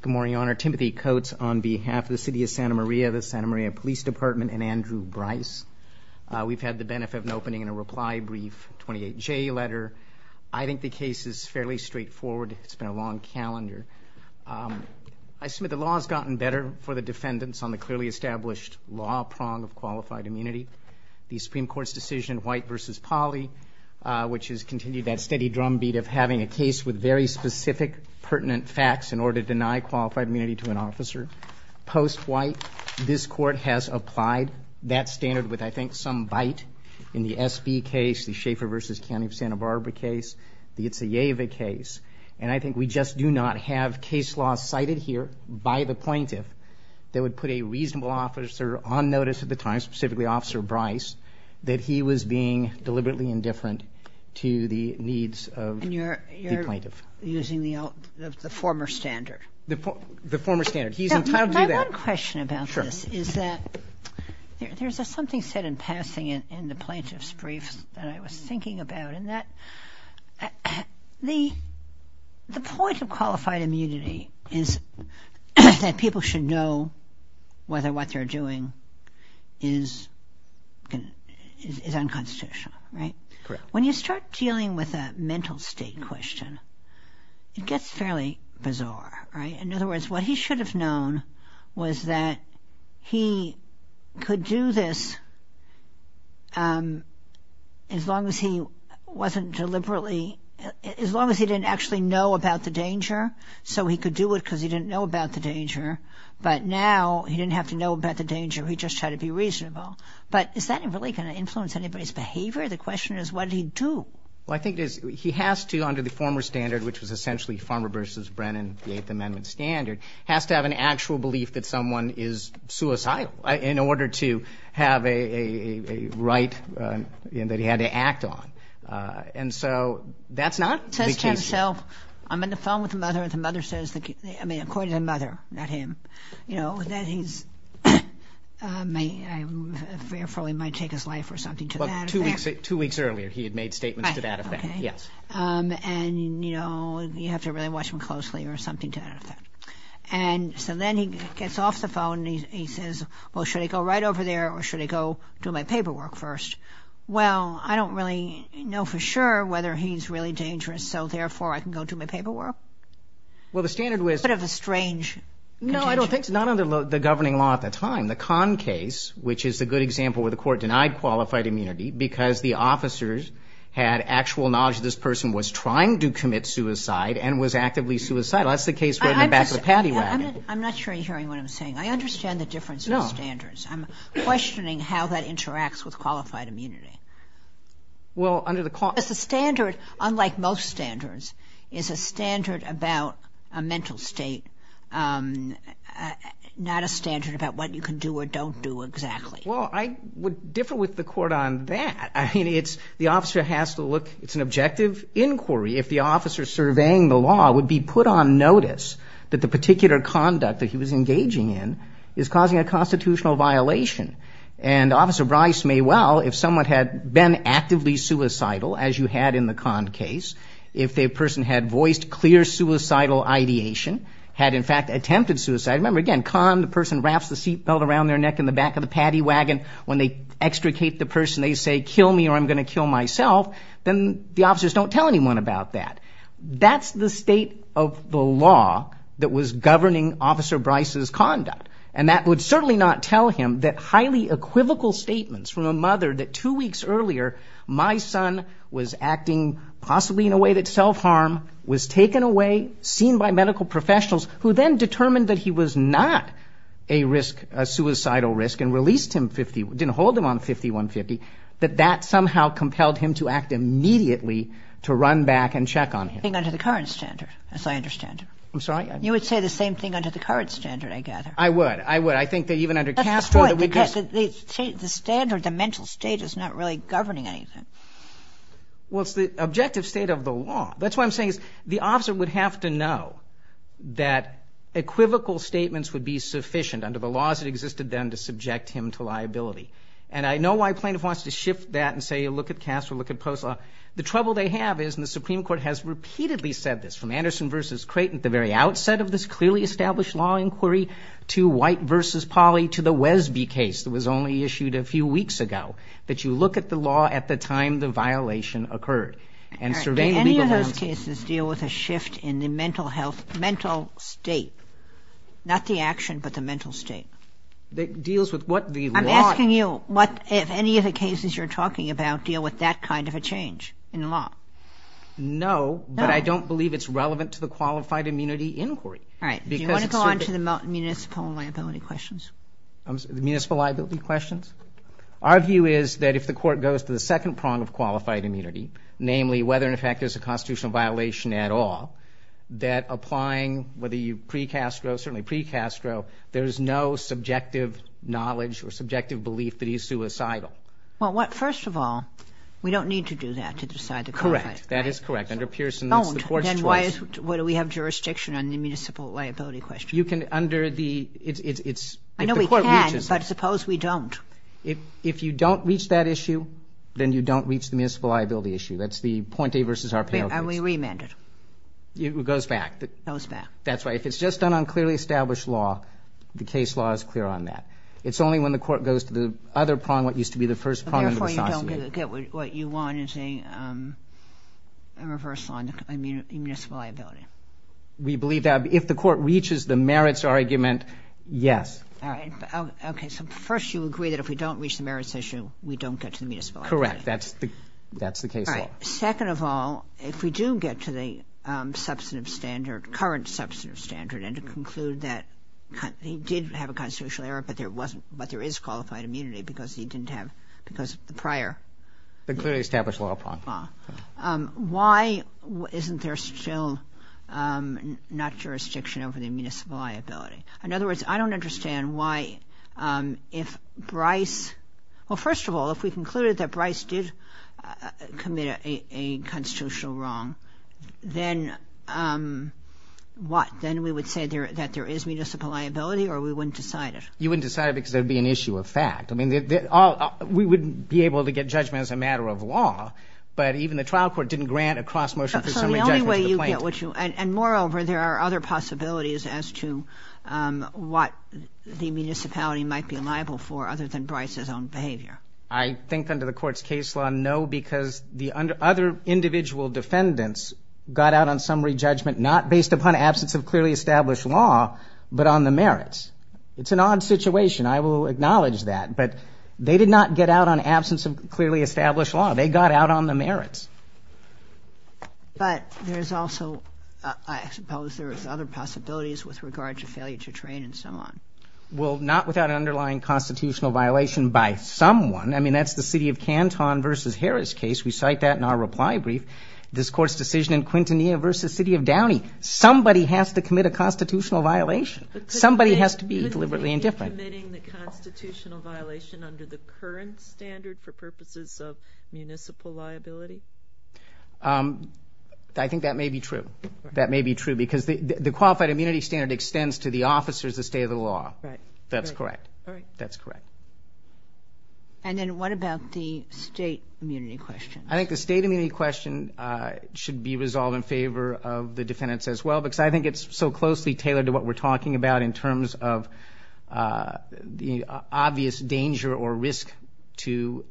Good morning, Your Honor. Timothy Coates on behalf of the City of Santa Maria, the Santa Maria Police Department, and Andrew Bryce. We've had the benefit of an opening and a reply brief, 28J letter. I think the case is fairly straightforward. It's been a long calendar. I submit the law has gotten better for the defendants on the clearly established law prong of qualified immunity. The Supreme Court's decision, White v. Polly, which has continued that steady drumbeat of having a case with very specific pertinent facts in order to deny qualified immunity to an officer. Post-White, this court has applied that standard with, I think, some bite in the SB case, the Schaefer v. County of Santa Barbara case, the Itzaeva case. And I think we just do not have case law cited here by the plaintiff that would put a reasonable officer on notice at the time, specifically Officer Bryce, that he was being deliberately indifferent to the needs of the plaintiff. And you're using the former standard? The former standard. He's entitled to that. My one question about this is that there's something said in passing in the plaintiff's brief that I was thinking about. The point of qualified immunity is that people should know whether what they're doing is unconstitutional. When you start dealing with a mental state question, it gets fairly bizarre. In other words, what he should have known was that he could do this as long as he wasn't deliberately, as long as he didn't actually know about the danger. So he could do it because he didn't know about the danger, but now he didn't have to know about the danger. He just had to be reasonable. But is that really going to influence anybody's behavior? The question is, what did he do? Well, I think he has to, under the former standard, which was essentially Farmer v. Brennan, the Eighth Amendment standard, has to have an actual belief that someone is suicidal in order to have a right that he had to act on. And so that's not the case here. Says to himself, I'm in the phone with the mother, and the mother says, I mean, according to the mother, not him, you know, that he's, I mean, I'm fearful he might take his life or something to that effect. Two weeks earlier he had made statements to that effect, yes. And, you know, you have to really watch him closely or something to that effect. And so then he gets off the phone and he says, well, should I go right over there or should I go do my paperwork first? Well, I don't really know for sure whether he's really dangerous, so therefore I can go do my paperwork. Well, the standard was. It's a bit of a strange. No, I don't think so. Not under the governing law at the time. In the Kahn case, which is a good example where the court denied qualified immunity because the officers had actual knowledge this person was trying to commit suicide and was actively suicidal. That's the case right in the back of the paddy wagon. I'm not sure you're hearing what I'm saying. I understand the difference in standards. No. I'm questioning how that interacts with qualified immunity. Well, under the. The standard, unlike most standards, is a standard about a mental state, not a standard about what you can do or don't do exactly. Well, I would differ with the court on that. I mean, it's the officer has to look. It's an objective inquiry. If the officer surveying the law would be put on notice that the particular conduct that he was engaging in is causing a constitutional violation. And Officer Bryce may well, if someone had been actively suicidal, as you had in the Kahn case, if the person had voiced clear suicidal ideation, had in fact attempted suicide. Remember, again, Kahn, the person wraps the seat belt around their neck in the back of the paddy wagon. When they extricate the person, they say, kill me or I'm going to kill myself. Then the officers don't tell anyone about that. That's the state of the law that was governing Officer Bryce's conduct. And that would certainly not tell him that highly equivocal statements from a mother that two weeks earlier, my son was acting possibly in a way that's self-harm, was taken away, seen by medical professionals, who then determined that he was not a risk, a suicidal risk, and released him, didn't hold him on 5150, that that somehow compelled him to act immediately to run back and check on him. Under the current standard, as I understand. I'm sorry? You would say the same thing under the current standard, I gather. I would. I would. I think that even under Castro that we just... That's the point, because the standard, the mental state is not really governing anything. Well, it's the objective state of the law. That's what I'm saying is the officer would have to know that equivocal statements would be sufficient under the laws that existed then to subject him to liability. And I know why a plaintiff wants to shift that and say, look at Castro, look at post-law. The trouble they have is, and the Supreme Court has repeatedly said this, from Anderson v. Creighton at the very outset of this clearly established law inquiry, to White v. Polly, to the Wesby case that was only issued a few weeks ago, that you look at the law at the time the violation occurred. Do any of those cases deal with a shift in the mental health, mental state? Not the action, but the mental state? It deals with what the law... I'm asking you, if any of the cases you're talking about deal with that kind of a change in the law? No, but I don't believe it's relevant to the qualified immunity inquiry. All right. Do you want to go on to the municipal liability questions? Municipal liability questions? Our view is that if the Court goes to the second prong of qualified immunity, namely whether in effect there's a constitutional violation at all, that applying, whether you pre-Castro, certainly pre-Castro, there is no subjective knowledge or subjective belief that he's suicidal. Well, what first of all, we don't need to do that to decide the qualified... Correct. That is correct. Under Pearson, that's the Court's choice. So why do we have jurisdiction on the municipal liability question? You can under the... I know we can, but suppose we don't. If you don't reach that issue, then you don't reach the municipal liability issue. That's the Pointe v. Arparo case. And we reamend it. It goes back. It goes back. That's right. If it's just done on clearly established law, the case law is clear on that. It's only when the Court goes to the other prong, what used to be the first prong... We believe that. If the Court reaches the merits argument, yes. All right. Okay. So first you agree that if we don't reach the merits issue, we don't get to the municipal liability. Correct. That's the case law. All right. Second of all, if we do get to the substantive standard, current substantive standard, and conclude that he did have a constitutional error, but there is qualified immunity because he didn't have... Because of the prior... The clearly established law prong. Why isn't there still not jurisdiction over the municipal liability? In other words, I don't understand why if Bryce... Well, first of all, if we concluded that Bryce did commit a constitutional wrong, then what? Then we would say that there is municipal liability or we wouldn't decide it? You wouldn't decide it because there would be an issue of fact. I mean, we wouldn't be able to get judgment as a matter of law, but even the trial court didn't grant a cross motion for summary judgment to the plaintiff. So the only way you get what you... And moreover, there are other possibilities as to what the municipality might be liable for, other than Bryce's own behavior. I think under the Court's case law, no, because the other individual defendants got out on summary judgment not based upon absence of clearly established law, but on the merits. It's an odd situation. I will acknowledge that. But they did not get out on absence of clearly established law. They got out on the merits. But there's also... I suppose there are other possibilities with regard to failure to train and so on. Well, not without an underlying constitutional violation by someone. I mean, that's the city of Canton v. Harris case. We cite that in our reply brief. This Court's decision in Quintanilla v. City of Downey. Somebody has to commit a constitutional violation. Somebody has to be deliberately indifferent. Are you admitting the constitutional violation under the current standard for purposes of municipal liability? I think that may be true. That may be true because the qualified immunity standard extends to the officers, the state of the law. That's correct. All right. That's correct. And then what about the state immunity question? I think the state immunity question should be resolved in favor of the defendants as well, because I think it's so closely tailored to what we're talking about in terms of the obvious danger or risk to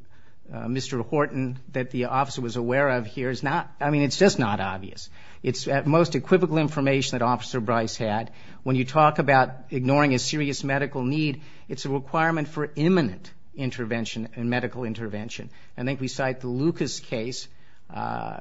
Mr. Horton that the officer was aware of here is not... I mean, it's just not obvious. It's at most equivocal information that Officer Bryce had. When you talk about ignoring a serious medical need, it's a requirement for imminent intervention and medical intervention. I think we cite the Lucas case,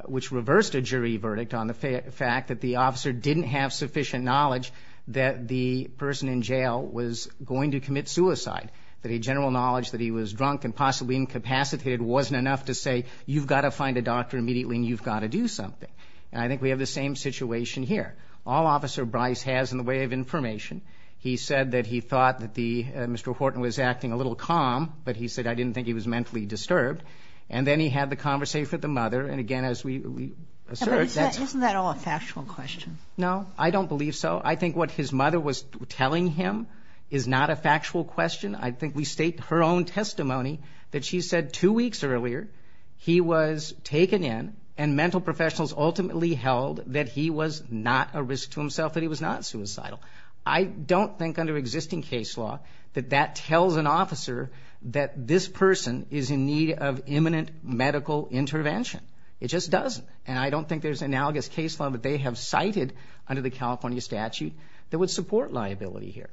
which reversed a jury verdict on the fact that the officer didn't have sufficient knowledge that the person in jail was going to commit suicide, that a general knowledge that he was drunk and possibly incapacitated wasn't enough to say, you've got to find a doctor immediately and you've got to do something. And I think we have the same situation here. All Officer Bryce has in the way of information, he said that he thought that Mr. Horton was acting a little calm, but he said, I didn't think he was mentally disturbed. And then he had the conversation with the mother, and again, as we assert... Isn't that all a factual question? No, I don't believe so. I think what his mother was telling him is not a factual question. I think we state her own testimony that she said two weeks earlier he was taken in and mental professionals ultimately held that he was not a risk to himself, that he was not suicidal. I don't think under existing case law that that tells an officer that this person is in need of imminent medical intervention. It just doesn't. And I don't think there's analogous case law that they have cited under the California statute that would support liability here.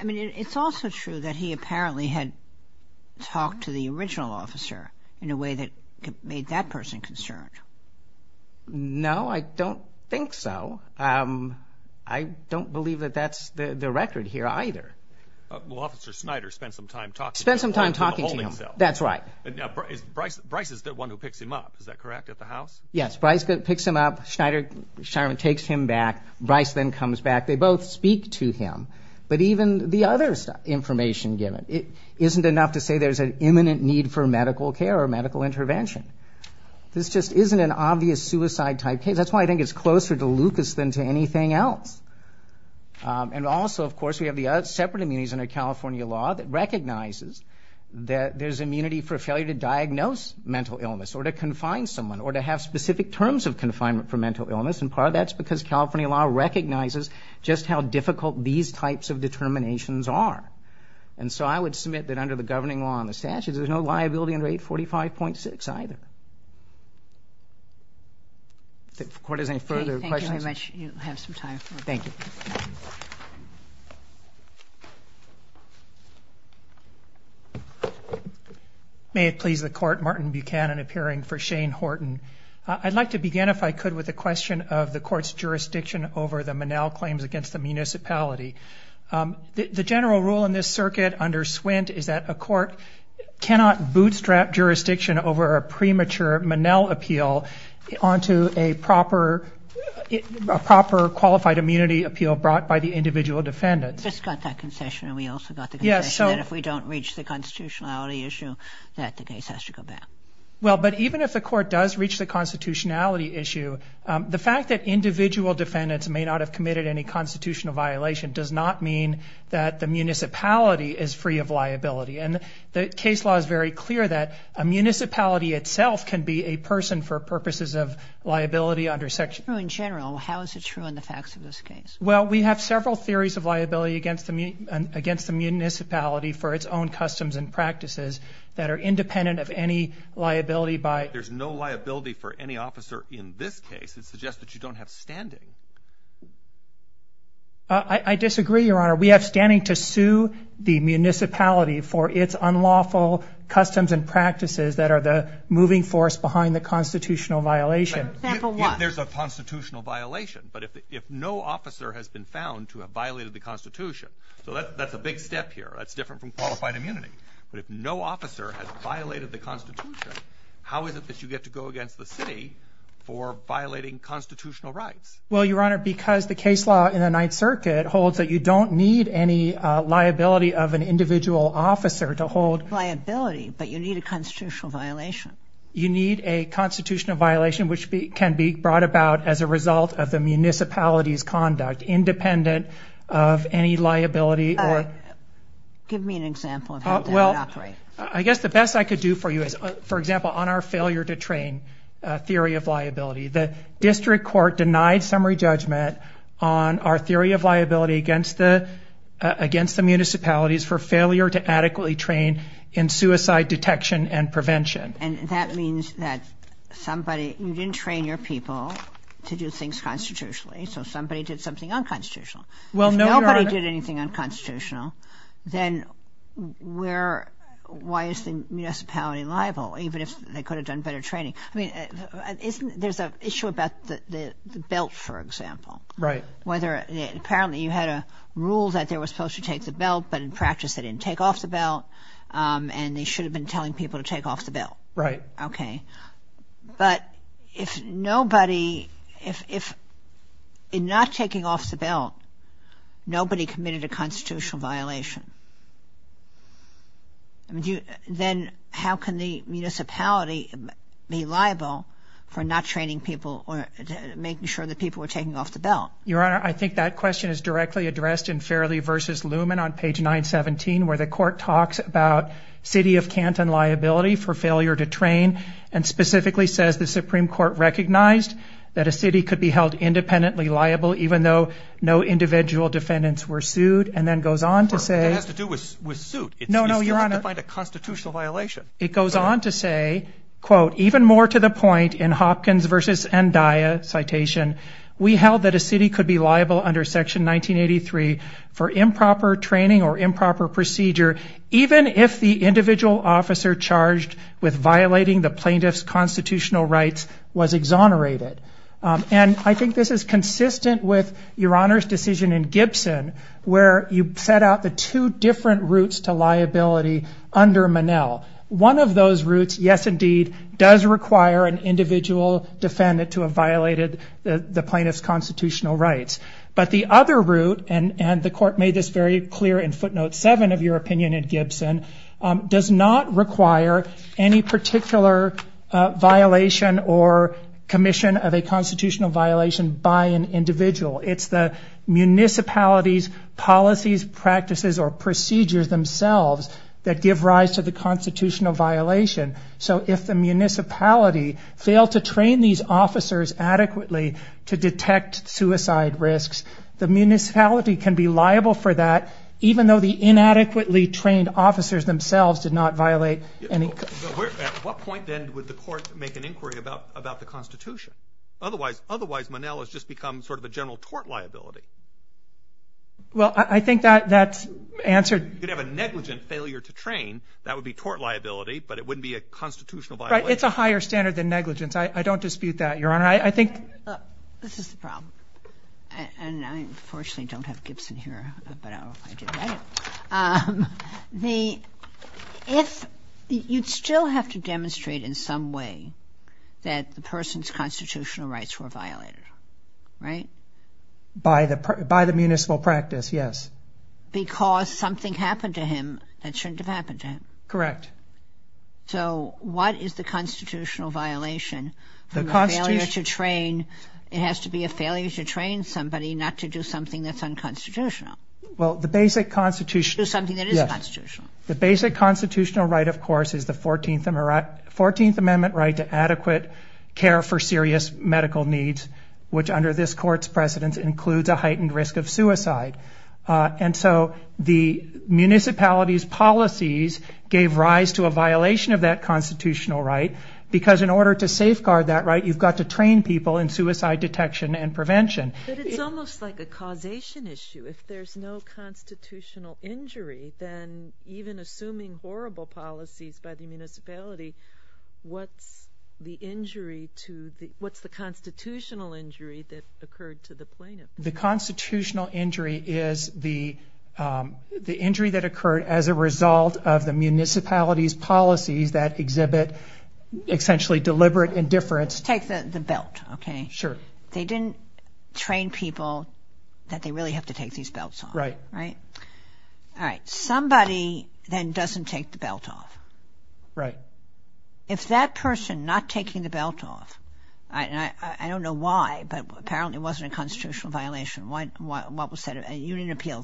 I mean, it's also true that he apparently had talked to the original officer in a way that made that person concerned. No, I don't think so. I don't believe that that's the record here either. Well, Officer Snyder spent some time talking to him. Spent some time talking to him. In the holding cell. That's right. Bryce is the one who picks him up, is that correct, at the house? Yes, Bryce picks him up. Schneider takes him back. Bryce then comes back. They both speak to him. But even the other information given isn't enough to say there's an imminent need for medical care or medical intervention. This just isn't an obvious suicide type case. That's why I think it's closer to Lucas than to anything else. And also, of course, we have the separate immunities under California law that recognizes that there's immunity for failure to diagnose mental illness or to confine someone or to have specific terms of confinement for mental illness. And part of that's because California law recognizes just how difficult these types of determinations are. And so I would submit that under the governing law and the statutes, there's no liability under 845.6 either. If the Court has any further questions. Thank you very much. You have some time. Thank you. May it please the Court, Martin Buchanan appearing for Shane Horton. I'd like to begin, if I could, with a question of the Court's jurisdiction over the Monell claims against the municipality. The general rule in this circuit under Swint is that a court cannot bootstrap jurisdiction over a premature Monell appeal onto a proper qualified immunity appeal brought by the individual defendant. We just got that concession and we also got the concession that if we don't reach the constitutionality issue, that the case has to go back. Well, but even if the Court does reach the constitutionality issue, the fact that individual defendants may not have committed any constitutional violation does not mean that the municipality is free of liability. And the case law is very clear that a municipality itself can be a person for purposes of liability under section. In general, how is it true in the facts of this case? Well, we have several theories of liability against the municipality for its own customs and practices that are independent of any liability by. There's no liability for any officer in this case. It suggests that you don't have standing. I disagree, Your Honor. We have standing to sue the municipality for its unlawful customs and practices that are the moving force behind the constitutional violation. There's a constitutional violation. But if no officer has been found to have violated the constitution, so that's a big step here. That's different from qualified immunity. But if no officer has violated the constitution, how is it that you get to go against the city for violating constitutional rights? Well, Your Honor, because the case law in the Ninth Circuit holds that you don't need any liability of an individual officer to hold liability. But you need a constitutional violation. You need a constitutional violation which can be brought about as a result of the municipality's conduct, independent of any liability. Give me an example of how that operates. Well, I guess the best I could do for you is, for example, on our failure to train theory of liability, the district court denied summary judgment on our theory of liability against the municipalities for failure to adequately train in suicide detection and prevention. And that means that somebody, you didn't train your people to do things constitutionally, so somebody did something unconstitutional. Well, no, Your Honor. If nobody did anything unconstitutional, then why is the municipality liable, even if they could have done better training? I mean, there's an issue about the belt, for example. Right. Apparently you had a rule that they were supposed to take the belt, but in practice they didn't take off the belt, and they should have been telling people to take off the belt. Right. Okay. But if nobody, if in not taking off the belt nobody committed a constitutional violation, then how can the municipality be liable for not training people or making sure that people were taking off the belt? Your Honor, I think that question is directly addressed in Fairley v. Luman on page 917, where the court talks about city of Canton liability for failure to train and specifically says the Supreme Court recognized that a city could be held independently liable even though no individual defendants were sued, and then goes on to say. Of course, it has to do with suit. No, no, Your Honor. You still have to find a constitutional violation. It goes on to say, quote, even more to the point in Hopkins v. Endaia, citation, we held that a city could be liable under section 1983 for improper training or improper procedure even if the individual officer charged with violating the plaintiff's constitutional rights was exonerated. And I think this is consistent with Your Honor's decision in Gibson where you set out the two different routes to liability under Monell. One of those routes, yes, indeed, does require an individual defendant to have violated the plaintiff's constitutional rights. But the other route, and the court made this very clear in footnote 7 of your opinion in Gibson, does not require any particular violation or commission of a constitutional violation by an individual. It's the municipality's policies, practices, or procedures themselves that give rise to the constitutional violation. So if the municipality failed to train these officers adequately to detect suicide risks, the municipality can be liable for that, even though the inadequately trained officers themselves did not violate any... At what point, then, would the court make an inquiry about the Constitution? Otherwise, Monell has just become sort of a general tort liability. Well, I think that's answered... If you could have a negligent failure to train, that would be tort liability, but it wouldn't be a constitutional violation. Right. It's a higher standard than negligence. I don't dispute that, Your Honor. I think... This is the problem. And I, unfortunately, don't have Gibson here, but I don't know if I did. If you still have to demonstrate in some way that the person's constitutional rights were violated, right? By the municipal practice, yes. Because something happened to him that shouldn't have happened to him. Correct. So what is the constitutional violation? The constitutional... The failure to train... It has to be a failure to train somebody not to do something that's unconstitutional. Well, the basic constitutional... Do something that is constitutional. Yes. The basic constitutional right, of course, is the 14th Amendment right to adequate care for serious medical needs, which under this Court's precedence includes a heightened risk of suicide. And so the municipality's policies gave rise to a violation of that constitutional right, because in order to safeguard that right, you've got to train people in suicide detection and prevention. But it's almost like a causation issue. If there's no constitutional injury, then even assuming horrible policies by the municipality, what's the injury to the... What's the constitutional injury that occurred to the plaintiff? The constitutional injury is the injury that occurred as a result of the municipality's policies that exhibit essentially deliberate indifference. Take the belt, okay? Sure. They didn't train people that they really have to take these belts off. Right. All right. Somebody then doesn't take the belt off. Right. If that person not taking the belt off, I don't know why, but apparently it wasn't a constitutional violation. You didn't appeal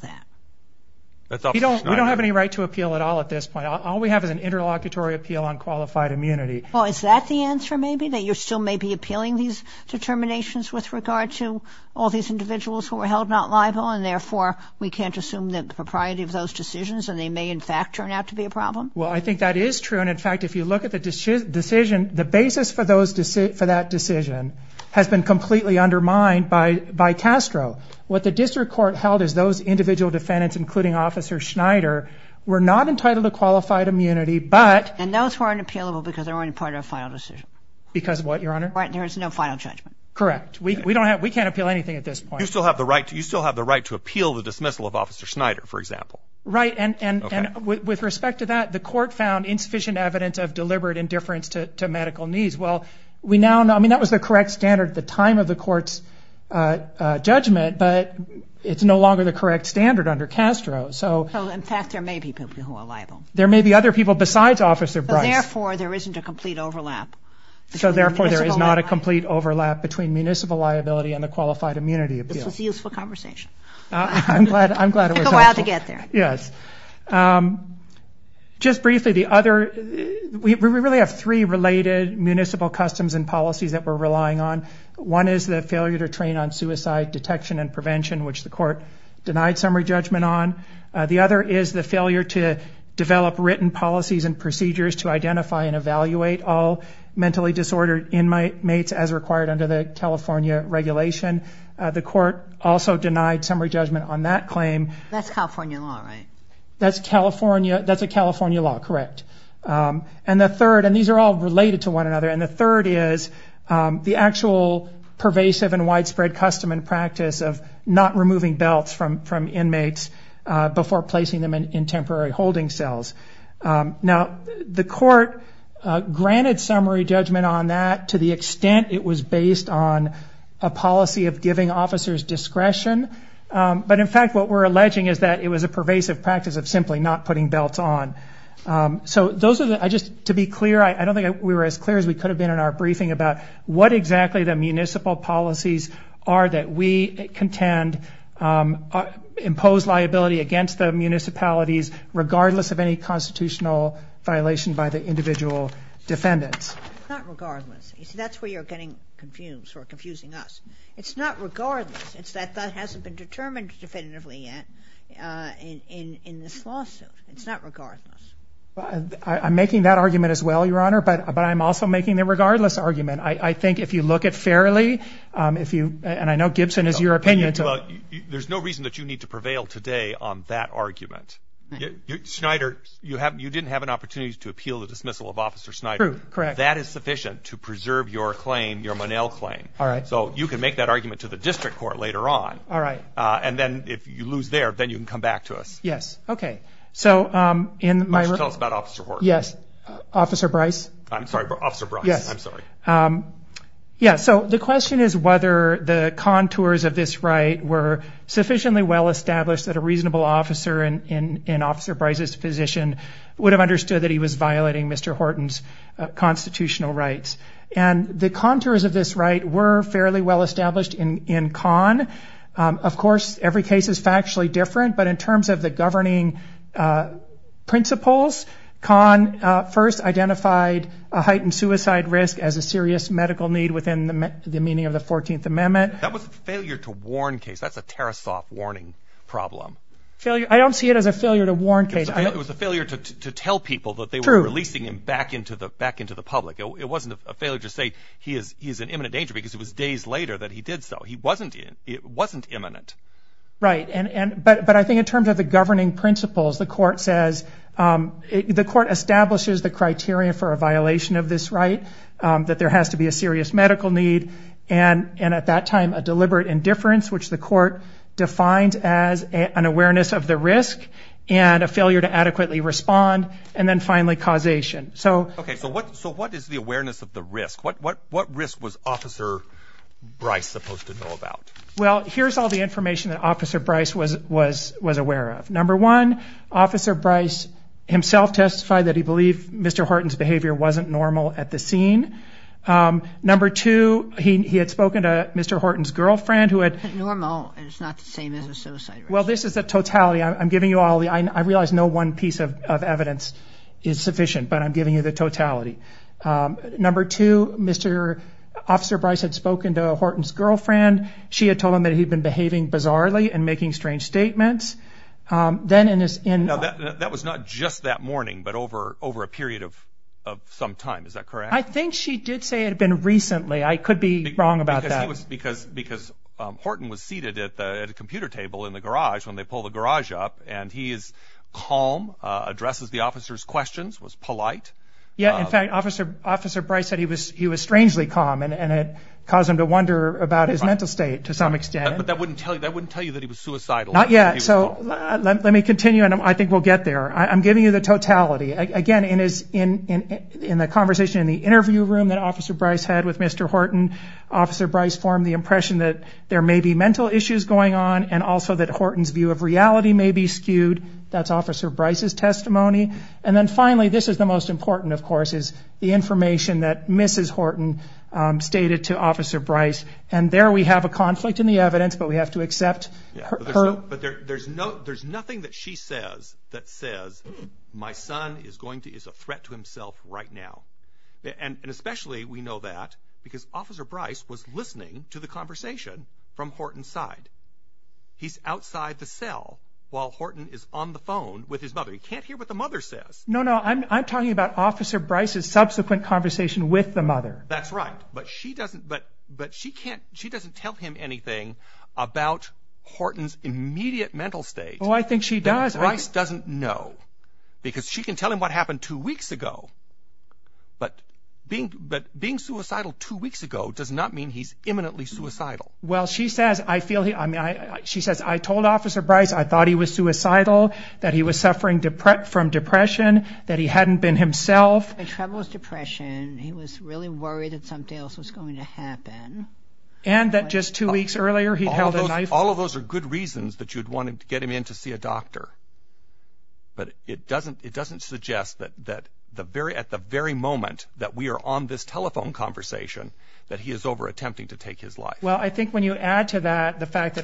that. We don't have any right to appeal at all at this point. All we have is an interlocutory appeal on qualified immunity. Well, is that the answer maybe, that you still may be appealing these determinations with regard to all these individuals who were held not liable, and therefore we can't assume the propriety of those decisions, and they may in fact turn out to be a problem? Well, I think that is true. And in fact, if you look at the decision, the basis for that decision has been completely undermined by Castro. What the district court held is those individual defendants, including Officer Schneider, were not entitled to qualified immunity, but... And those weren't appealable because they weren't a part of a final decision. Because of what, Your Honor? There was no final judgment. Correct. We can't appeal anything at this point. You still have the right to appeal the dismissal of Officer Schneider, for example. Right. And with respect to that, the court found insufficient evidence of deliberate indifference to medical needs. Well, we now know... I mean, that was the correct standard at the time of the court's judgment, but it's no longer the correct standard under Castro. So, in fact, there may be people who are liable. There may be other people besides Officer Bryce. Therefore, there isn't a complete overlap. So, therefore, there is not a complete overlap between municipal liability and the qualified immunity appeal. This was a useful conversation. I'm glad it was helpful. It took a while to get there. Yes. Just briefly, the other... We really have three related municipal customs and policies that we're relying on. One is the failure to train on suicide detection and prevention, which the court denied summary judgment on. The other is the failure to develop written policies and procedures to identify and evaluate all mentally disordered inmates as required under the California regulation. The court also denied summary judgment on that claim. That's California law, right? That's California. That's a California law, correct. And the third, and these are all related to one another, and the third is the actual pervasive and widespread custom and practice of not removing belts from inmates before placing them in temporary holding cells. Now, the court granted summary judgment on that to the extent it was based on a policy of giving officers discretion. But, in fact, what we're alleging is that it was a pervasive practice of simply not putting belts on. So those are the... Just to be clear, I don't think we were as clear as we could have been in our briefing about what exactly the municipal policies are that we contend impose liability against the municipalities regardless of any constitutional violation by the individual defendants. Not regardless. You see, that's where you're getting confused or confusing us. It's not regardless. It's that that hasn't been determined definitively yet in this lawsuit. It's not regardless. I'm making that argument as well, Your Honor, but I'm also making the regardless argument. I think if you look at fairly, and I know Gibson is your opinion. There's no reason that you need to prevail today on that argument. Schneider, you didn't have an opportunity to appeal the dismissal of Officer Schneider. True, correct. That is sufficient to preserve your claim, your Monell claim. All right. So you can make that argument to the district court later on. All right. And then if you lose there, then you can come back to us. Yes. So in my... Why don't you tell us about Officer Horton? Yes. Officer Bryce? I'm sorry, Officer Bryce. Yes. I'm sorry. Yeah, so the question is whether the contours of this right were sufficiently well established that a reasonable officer in Officer Bryce's position would have understood that he was violating Mr. Horton's constitutional rights. And the contours of this right were fairly well established in Kahn. Of course, every case is factually different. But in terms of the governing principles, Kahn first identified a heightened suicide risk as a serious medical need within the meaning of the 14th Amendment. That was a failure to warn case. That's a Tarasoff warning problem. I don't see it as a failure to warn case. It was a failure to tell people that they were releasing him back into the public. It wasn't a failure to say he is in imminent danger because it was days later that he did so. It wasn't imminent. Right. But I think in terms of the governing principles, the court says... The court establishes the criteria for a violation of this right, that there has to be a serious medical need, and at that time, a deliberate indifference, which the court defines as an awareness of the risk and a failure to adequately respond, and then finally, causation. Okay. So what is the awareness of the risk? What risk was Officer Bryce supposed to know about? Well, here's all the information that Officer Bryce was aware of. Number one, Officer Bryce himself testified that he believed Mr. Horton's behavior wasn't normal at the scene. Number two, he had spoken to Mr. Horton's girlfriend who had... Normal is not the same as a suicide risk. Well, this is a totality. I'm giving you all the... I realize no one piece of evidence is sufficient, but I'm giving you the totality. Number two, Officer Bryce had spoken to Horton's girlfriend. She had told him that he had been behaving bizarrely and making strange statements. Now, that was not just that morning, but over a period of some time, is that correct? I think she did say it had been recently. I could be wrong about that. Because Horton was seated at a computer table in the garage when they pulled the garage up, and he is calm, addresses the officer's questions, was polite. Yeah. In fact, Officer Bryce said he was strangely calm, and it caused him to wonder about his mental state to some extent. But that wouldn't tell you that he was suicidal. Not yet. So let me continue, and I think we'll get there. I'm giving you the totality. Again, in the conversation in the interview room that Officer Bryce had with Mr. Horton, Officer Bryce formed the impression that there may be mental issues going on and also that Horton's view of reality may be skewed. That's Officer Bryce's testimony. And then finally, this is the most important, of course, is the information that Mrs. Horton stated to Officer Bryce. And there we have a conflict in the evidence, but we have to accept her. But there's nothing that she says that says my son is a threat to himself right now. And especially we know that because Officer Bryce was listening to the conversation from Horton's side. He's outside the cell while Horton is on the phone with his mother. He can't hear what the mother says. No, no, I'm talking about Officer Bryce's subsequent conversation with the mother. That's right, but she doesn't tell him anything about Horton's immediate mental state. Oh, I think she does. Officer Bryce doesn't know because she can tell him what happened two weeks ago, but being suicidal two weeks ago does not mean he's imminently suicidal. Well, she says, I told Officer Bryce I thought he was suicidal, that he was suffering from depression, that he hadn't been himself. He had trouble with depression. He was really worried that something else was going to happen. And that just two weeks earlier he held a knife. All of those are good reasons that you'd want to get him in to see a doctor. But it doesn't suggest that at the very moment that we are on this telephone conversation that he is over attempting to take his life. Well, I think when you add to that the fact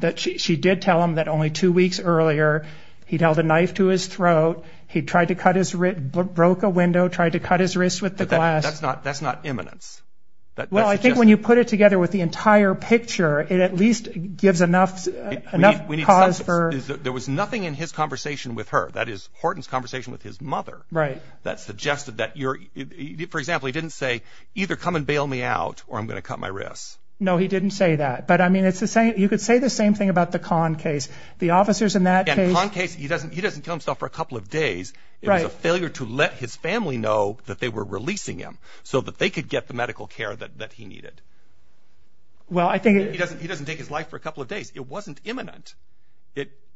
that she did tell him that only two weeks earlier he'd held a knife to his throat, he'd tried to cut his wrist, broke a window, tried to cut his wrist with the glass. That's not imminence. Well, I think when you put it together with the entire picture, it at least gives enough cause for... There was nothing in his conversation with her, that is, Horton's conversation with his mother, that suggested that you're... For example, he didn't say either come and bail me out or I'm going to cut my wrist. No, he didn't say that. But, I mean, you could say the same thing about the Kahn case. The officers in that case... In the Kahn case, he doesn't kill himself for a couple of days. It was a failure to let his family know that they were releasing him so that they could get the medical care that he needed. Well, I think... He doesn't take his life for a couple of days. It wasn't imminent.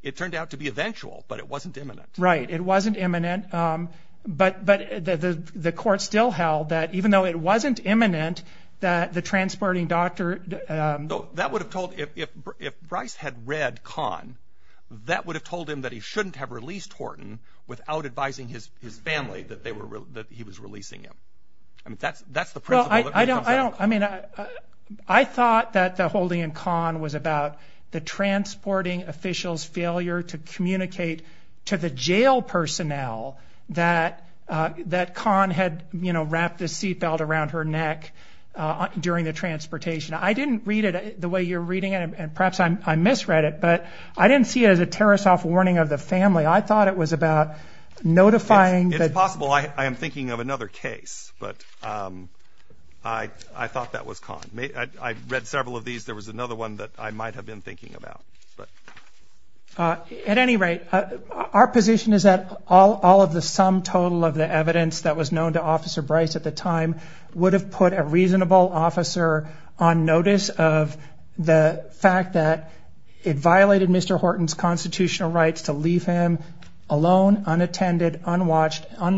It turned out to be eventual, but it wasn't imminent. Right, it wasn't imminent. But the court still held that even though it wasn't imminent, that the transporting doctor... So that would have told... If Bryce had read Kahn, that would have told him that he shouldn't have released Horton without advising his family that he was releasing him. I mean, that's the principle that comes out of it. Well, I don't... I mean, I thought that the holding in Kahn was about the transporting official's failure to communicate to the jail personnel that Kahn had, you know, wrapped a seatbelt around her neck during the transportation. I didn't read it the way you're reading it, and perhaps I misread it, but I didn't see it as a tear-us-off warning of the family. I thought it was about notifying... It's possible. I am thinking of another case, but I thought that was Kahn. I read several of these. There was another one that I might have been thinking about, but... At any rate, our position is that all of the sum total of the evidence that was known to Officer Bryce at the time would have put a reasonable officer on notice of the fact that it violated Mr. Horton's constitutional rights to leave him alone, unattended, unwatched.